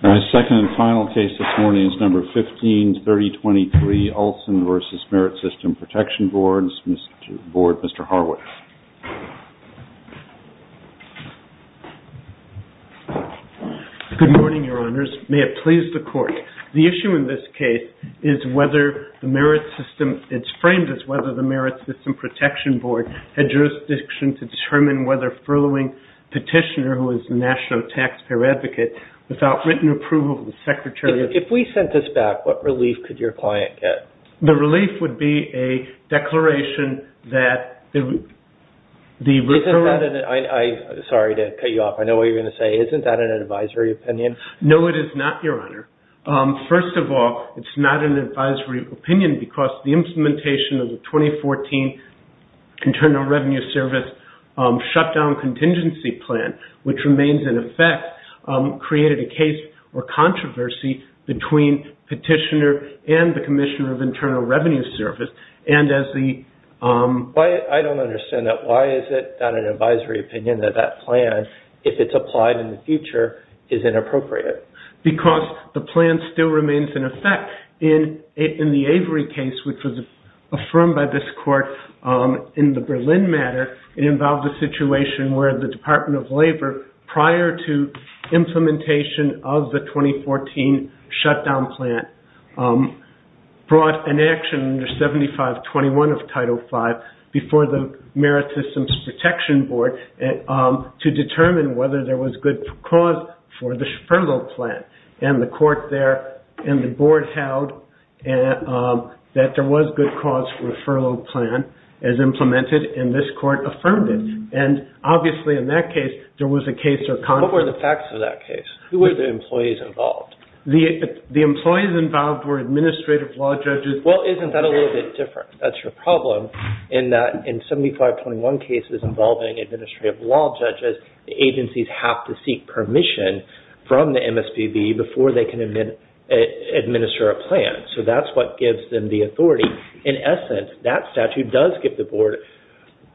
Our second and final case this morning is number 15-3023, Olson v. Merit System Protection Boards, Mr. Harwood. Good morning, Your Honors. May it please the Court. The issue in this case is whether the Merit System, it's framed as whether the Merit System Protection Board had jurisdiction to determine whether furloughing petitioner who is National Taxpayer Advocate without written approval from the Secretary of... If we sent this back, what relief could your client get? The relief would be a declaration that the... Isn't that an, I, I, sorry to cut you off, I know what you're going to say, isn't that an advisory opinion? No, it is not, Your Honor. First of all, it's not an advisory opinion because the implementation of the 2014 Internal Revenue Service Shutdown Contingency Plan, which remains in effect, created a case or controversy between petitioner and the Commissioner of Internal Revenue Service, and as the... I don't understand that. Why is it not an advisory opinion that that plan, if it's applied in the future, is inappropriate? Because the plan still remains in effect. In the Avery case, which was affirmed by this Court in the Berlin matter, it involved a situation where the Department of Labor, prior to implementation of the 2014 shutdown plan, brought an action under 7521 of Title V before the Merit Systems Protection Board to determine whether there was good cause for the furlough petition. And the Court there, and the Board held that there was good cause for the furlough plan as implemented, and this Court affirmed it. And obviously in that case, there was a case or controversy... What were the facts of that case? Who were the employees involved? The employees involved were administrative law judges... ...before they can administer a plan. So that's what gives them the authority. In essence, that statute does give the Board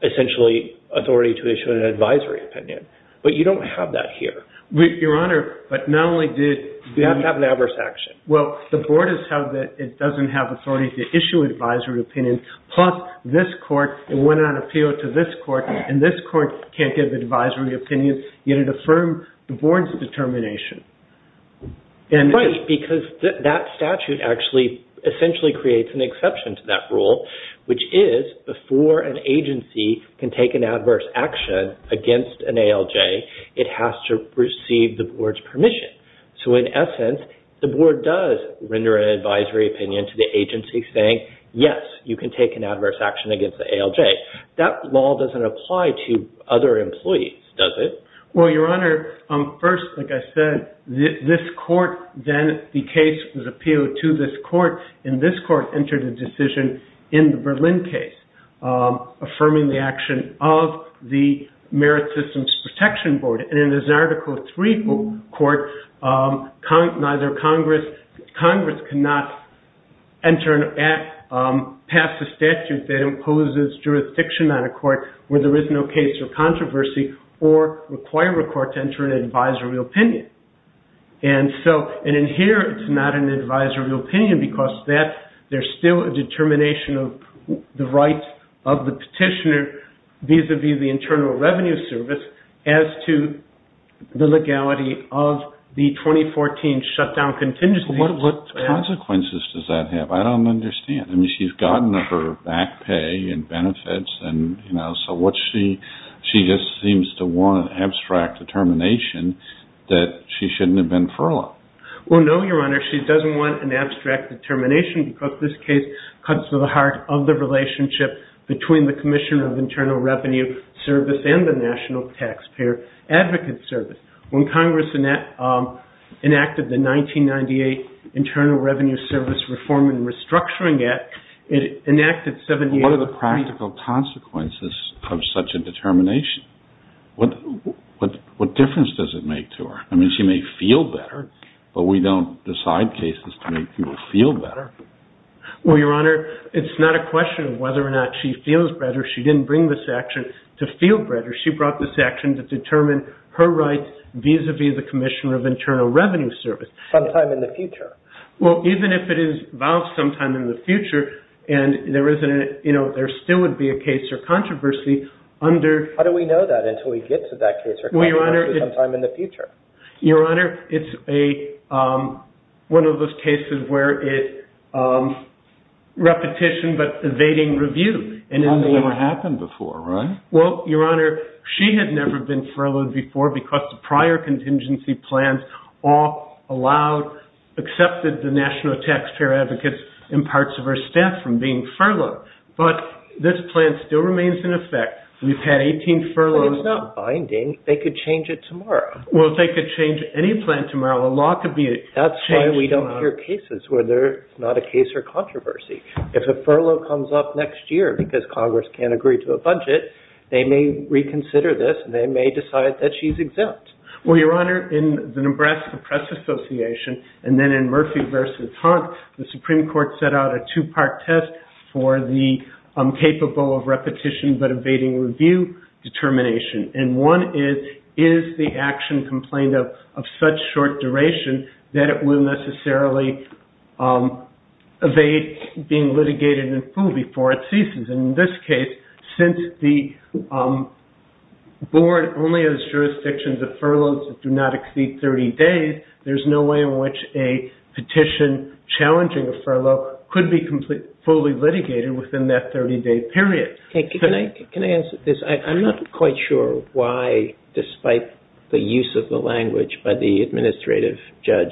essentially authority to issue an advisory opinion. But you don't have that here. Your Honor, but not only did... You have to have an adverse action. Well, the Board has held that it doesn't have authority to issue an advisory opinion. Plus, this Court went on appeal to this Court, and this Court can't give an advisory opinion, yet it affirmed the Board's determination. Right, because that statute actually essentially creates an exception to that rule, which is before an agency can take an adverse action against an ALJ, it has to receive the Board's permission. So in essence, the Board does render an advisory opinion to the agency saying, yes, you can take an adverse action against the ALJ. That law doesn't apply to other employees, does it? Well, Your Honor, first, like I said, this Court, then the case was appealed to this Court, and this Court entered a decision in the Berlin case affirming the action of the Merit Systems Protection Board. And in this Article III Court, Congress cannot pass a statute that imposes jurisdiction on a Court where there is no case of controversy or require a Court to enter an advisory opinion. And in here, it's not an advisory opinion because there's still a determination of the rights of the petitioner vis-à-vis the Internal Revenue Service as to the legality of the 2014 shutdown contingency. So what consequences does that have? I don't understand. I mean, she's gotten her back pay and benefits, and, you know, so she just seems to want an abstract determination that she shouldn't have been furloughed. Well, no, Your Honor, she doesn't want an abstract determination because this case cuts to the heart of the relationship between the Commission of Internal Revenue Service and the National Taxpayer Advocate Service. When Congress enacted the 1998 Internal Revenue Service Reform and Restructuring Act, it enacted 78… What are the practical consequences of such a determination? What difference does it make to her? I mean, she may feel better, but we don't decide cases to make people feel better. Well, Your Honor, it's not a question of whether or not she feels better. She didn't bring this action to feel better. She brought this action to determine her rights vis-à-vis the Commissioner of Internal Revenue Service. Well, even if it is valved sometime in the future and there still would be a case or controversy under… How do we know that until we get to that case or controversy sometime in the future? Your Honor, it's one of those cases where it's repetition but evading review. That's never happened before, right? Well, Your Honor, she had never been furloughed before because the prior contingency plans all allowed, accepted the National Taxpayer Advocates and parts of her staff from being furloughed. But this plan still remains in effect. We've had 18 furloughs… But if it's binding, they could change it tomorrow. Well, if they could change any plan tomorrow, the law could be changed tomorrow. That's why we don't hear cases where there's not a case or controversy. If a furlough comes up next year because Congress can't agree to a budget, they may reconsider this and they may decide that she's exempt. Well, Your Honor, in the Nebraska Press Association and then in Murphy v. Hunt, the Supreme Court set out a two-part test for the capable of repetition but evading review determination. And one is, is the action complained of such short duration that it will necessarily evade being litigated in full before it ceases? And in this case, since the board only has jurisdictions of furloughs that do not exceed 30 days, there's no way in which a petition challenging a furlough could be fully litigated within that 30-day period. Can I answer this? I'm not quite sure why, despite the use of the language by the administrative judge,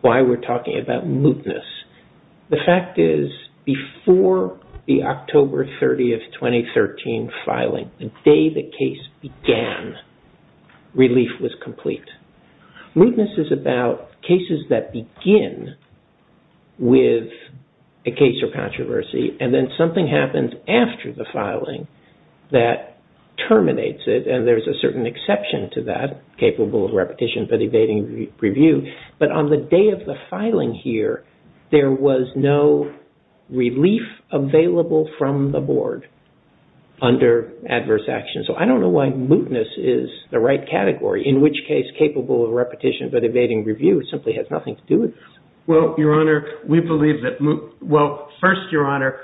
why we're talking about mootness. The fact is, before the October 30, 2013 filing, the day the case began, relief was complete. Mootness is about cases that begin with a case or controversy and then something happens after the filing that terminates it. And there's a certain exception to that, capable of repetition but evading review. But on the day of the filing here, there was no relief available from the board under adverse action. So I don't know why mootness is the right category, in which case capable of repetition but evading review simply has nothing to do with this. Well, Your Honor, we believe that—well, first, Your Honor,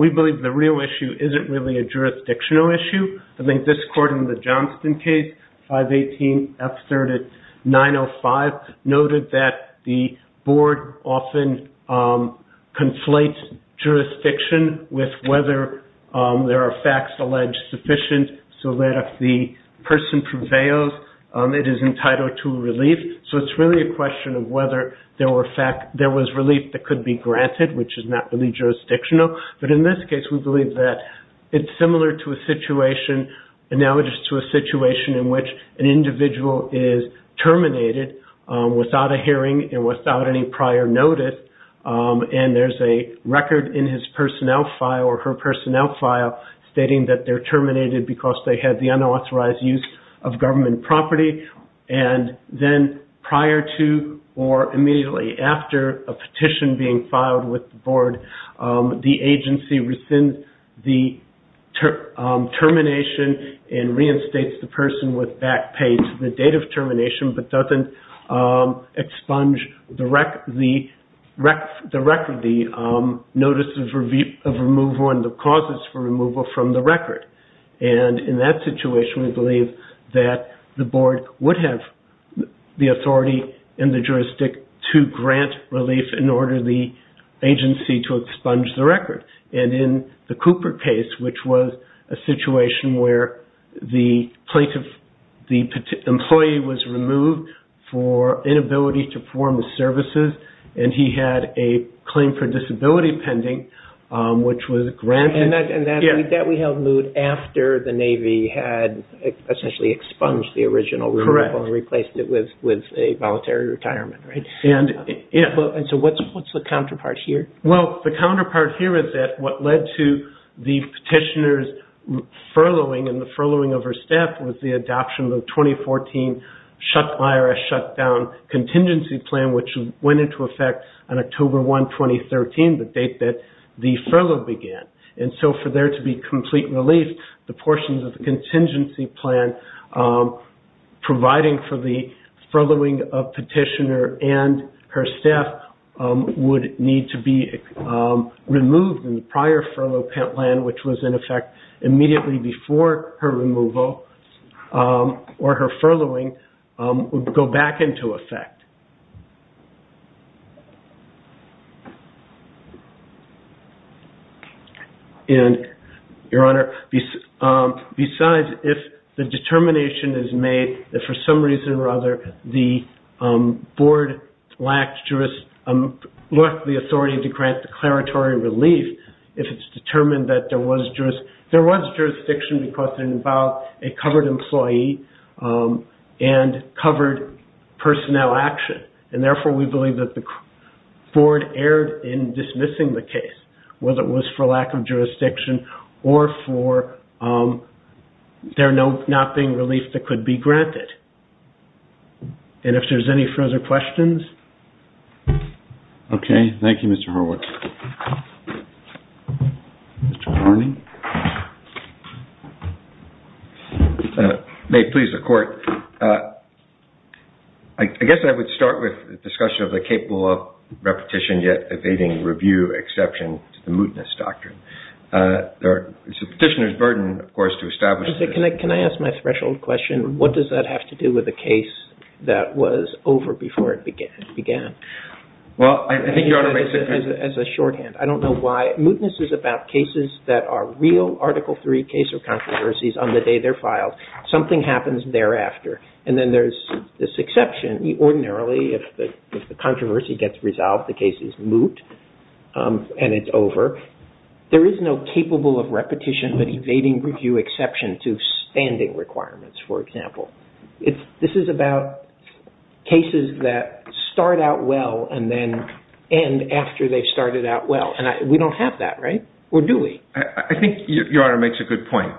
we believe the real issue isn't really a jurisdictional issue. I think this court in the Johnston case, 518F3905, noted that the board often conflates jurisdiction with whether there are facts alleged sufficient so that if the person prevails, it is entitled to relief. So it's really a question of whether there was relief that could be granted, which is not really jurisdictional. But in this case, we believe that it's similar to a situation—analogous to a situation in which an individual is terminated without a hearing and without any prior notice. And there's a record in his personnel file or her personnel file stating that they're terminated because they had the unauthorized use of government property. And then prior to or immediately after a petition being filed with the board, the agency rescinds the termination and reinstates the person with back pay to the date of termination, but doesn't expunge the record, the notice of removal and the causes for removal from the record. And in that situation, we believe that the board would have the authority in the jurisdict to grant relief in order the agency to expunge the record. And in the Cooper case, which was a situation where the plaintiff—the employee was removed for inability to perform the services, and he had a claim for disability pending, which was granted— And that we held moot after the Navy had essentially expunged the original removal and replaced it with a voluntary retirement. And so what's the counterpart here? Well, the counterpart here is that what led to the petitioner's furloughing and the furloughing of her staff was the adoption of the 2014 IRS shutdown contingency plan, which went into effect on October 1, 2013, the date that the furlough began. And so for there to be complete relief, the portions of the contingency plan providing for the furloughing of petitioner and her staff would need to be removed in the prior furlough plan, which was in effect immediately before her removal or her furloughing would go back into effect. And, Your Honor, besides, if the determination is made that for some reason or other the board lacked the authority to grant declaratory relief, if it's determined that there was jurisdiction because it involved a covered employee and covered personnel action, and therefore we believe that the board erred in dismissing the case, whether it was for lack of jurisdiction or for there not being relief that could be granted. And if there's any further questions? Okay. Thank you, Mr. Hurwitz. Mr. Horne? May it please the Court? I guess I would start with the discussion of the capable of repetition yet evading review exception to the mootness doctrine. It's the petitioner's burden, of course, to establish... Can I ask my threshold question? What does that have to do with the case that was over before it began? Well, I think Your Honor... As a shorthand, I don't know why. Mootness is about cases that are real Article III case or controversies on the day they're filed. Something happens thereafter. And then there's this exception. Ordinarily, if the controversy gets resolved, the case is moot and it's over. There is no capable of repetition but evading review exception to standing requirements, for example. This is about cases that start out well and then end after they've started out well. And we don't have that, right? Or do we? I think Your Honor makes a good point.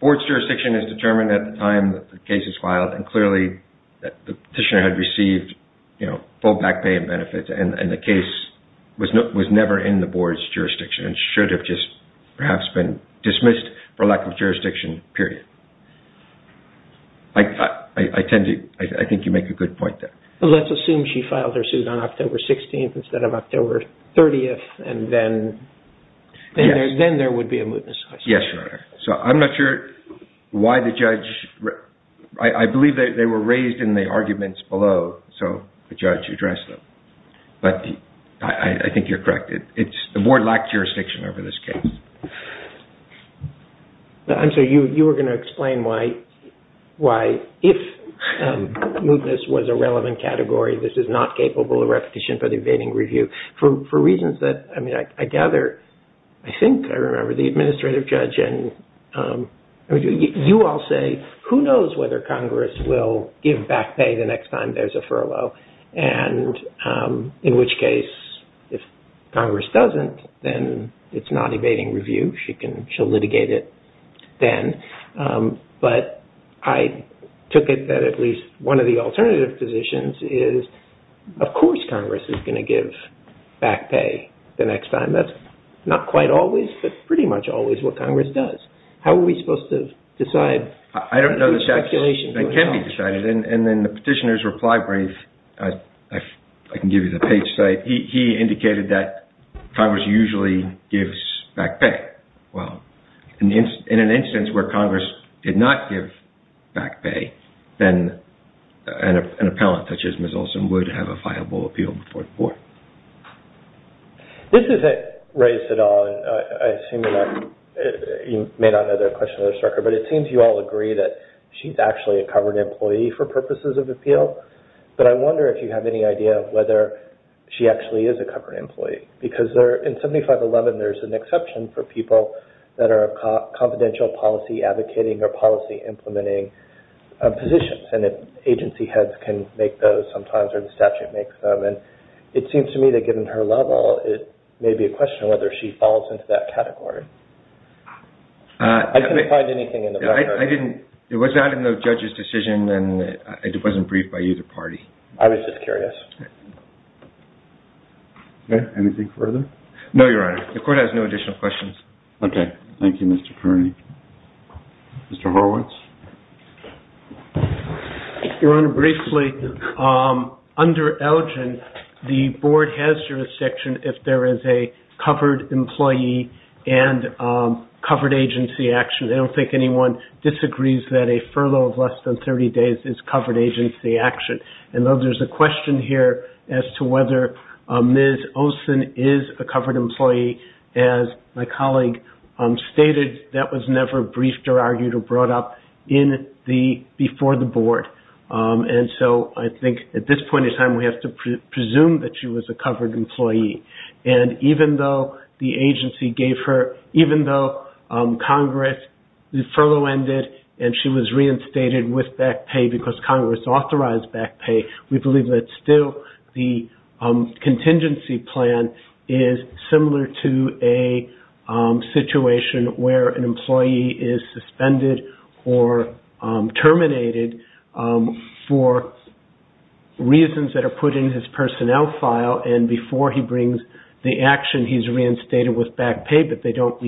Board's jurisdiction is determined at the time the case is filed. And clearly, the petitioner had received full back pay and benefits and the case was never in the Board's jurisdiction. It should have just perhaps been dismissed for lack of jurisdiction, period. I think you make a good point there. Let's assume she filed her suit on October 16th instead of October 30th and then there would be a mootness. Yes, Your Honor. I'm not sure why the judge... I believe they were raised in the arguments below, so the judge addressed them. But I think you're correct. The Board lacked jurisdiction over this case. I'm sorry. You were going to explain why if mootness was a relevant category, this is not capable of repetition but evading review. For reasons that, I mean, I gather, I think I remember the administrative judge and you all say, who knows whether Congress will give back pay the next time there's a furlough? In which case, if Congress doesn't, then it's not evading review. She'll litigate it then. But I took it that at least one of the alternative positions is, of course, Congress is going to give back pay the next time. That's not quite always but pretty much always what Congress does. How are we supposed to decide? I don't know the steps that can be decided and then the petitioner's reply brief, I can give you the page site. He indicated that Congress usually gives back pay. Well, in an instance where Congress did not give back pay, then an appellant such as Ms. Olson would have a viable appeal before the Court. This isn't race at all. I assume you may not know the question of this record. But it seems you all agree that she's actually a covered employee for purposes of appeal. But I wonder if you have any idea of whether she actually is a covered employee. Because in 7511, there's an exception for people that are confidential policy advocating or policy implementing positions. And if agency heads can make those sometimes or the statute makes them. And it seems to me that given her level, it may be a question whether she falls into that category. I didn't find anything in the record. I didn't. It was not in the judge's decision and it wasn't briefed by either party. I was just curious. Okay. Anything further? No, Your Honor. The Court has no additional questions. Okay. Thank you, Mr. Kearney. Mr. Horowitz? Your Honor, briefly, under Elgin, the Board has jurisdiction if there is a covered employee and covered agency action. I don't think anyone disagrees that a furlough of less than 30 days is covered agency action. And though there's a question here as to whether Ms. Olson is a covered employee, as my colleague stated, that was never briefed or argued or brought up before the Board. And so I think at this point in time, we have to presume that she was a covered employee. And even though the agency gave her – even though Congress, the furlough ended and she was reinstated with back pay because Congress authorized back pay, we believe that still the contingency plan is similar to a situation where an employee is suspended or terminated for reasons that are put in his personnel file. And before he brings the action, he's reinstated with back pay, but they don't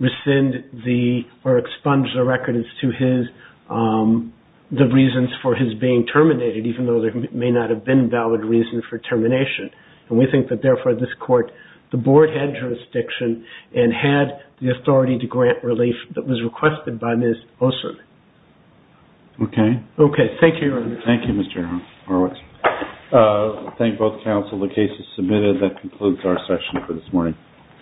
rescind the – or expunge the record as to his – the reasons for his being terminated, even though there may not have been valid reasons for termination. And we think that, therefore, this Court – the Board had jurisdiction and had the authority to grant relief that was requested by Ms. Olson. Okay. Okay. Thank you, Your Honor. Thank you, Mr. Horowitz. Thank both counsel. The case is submitted. That concludes our session for this morning.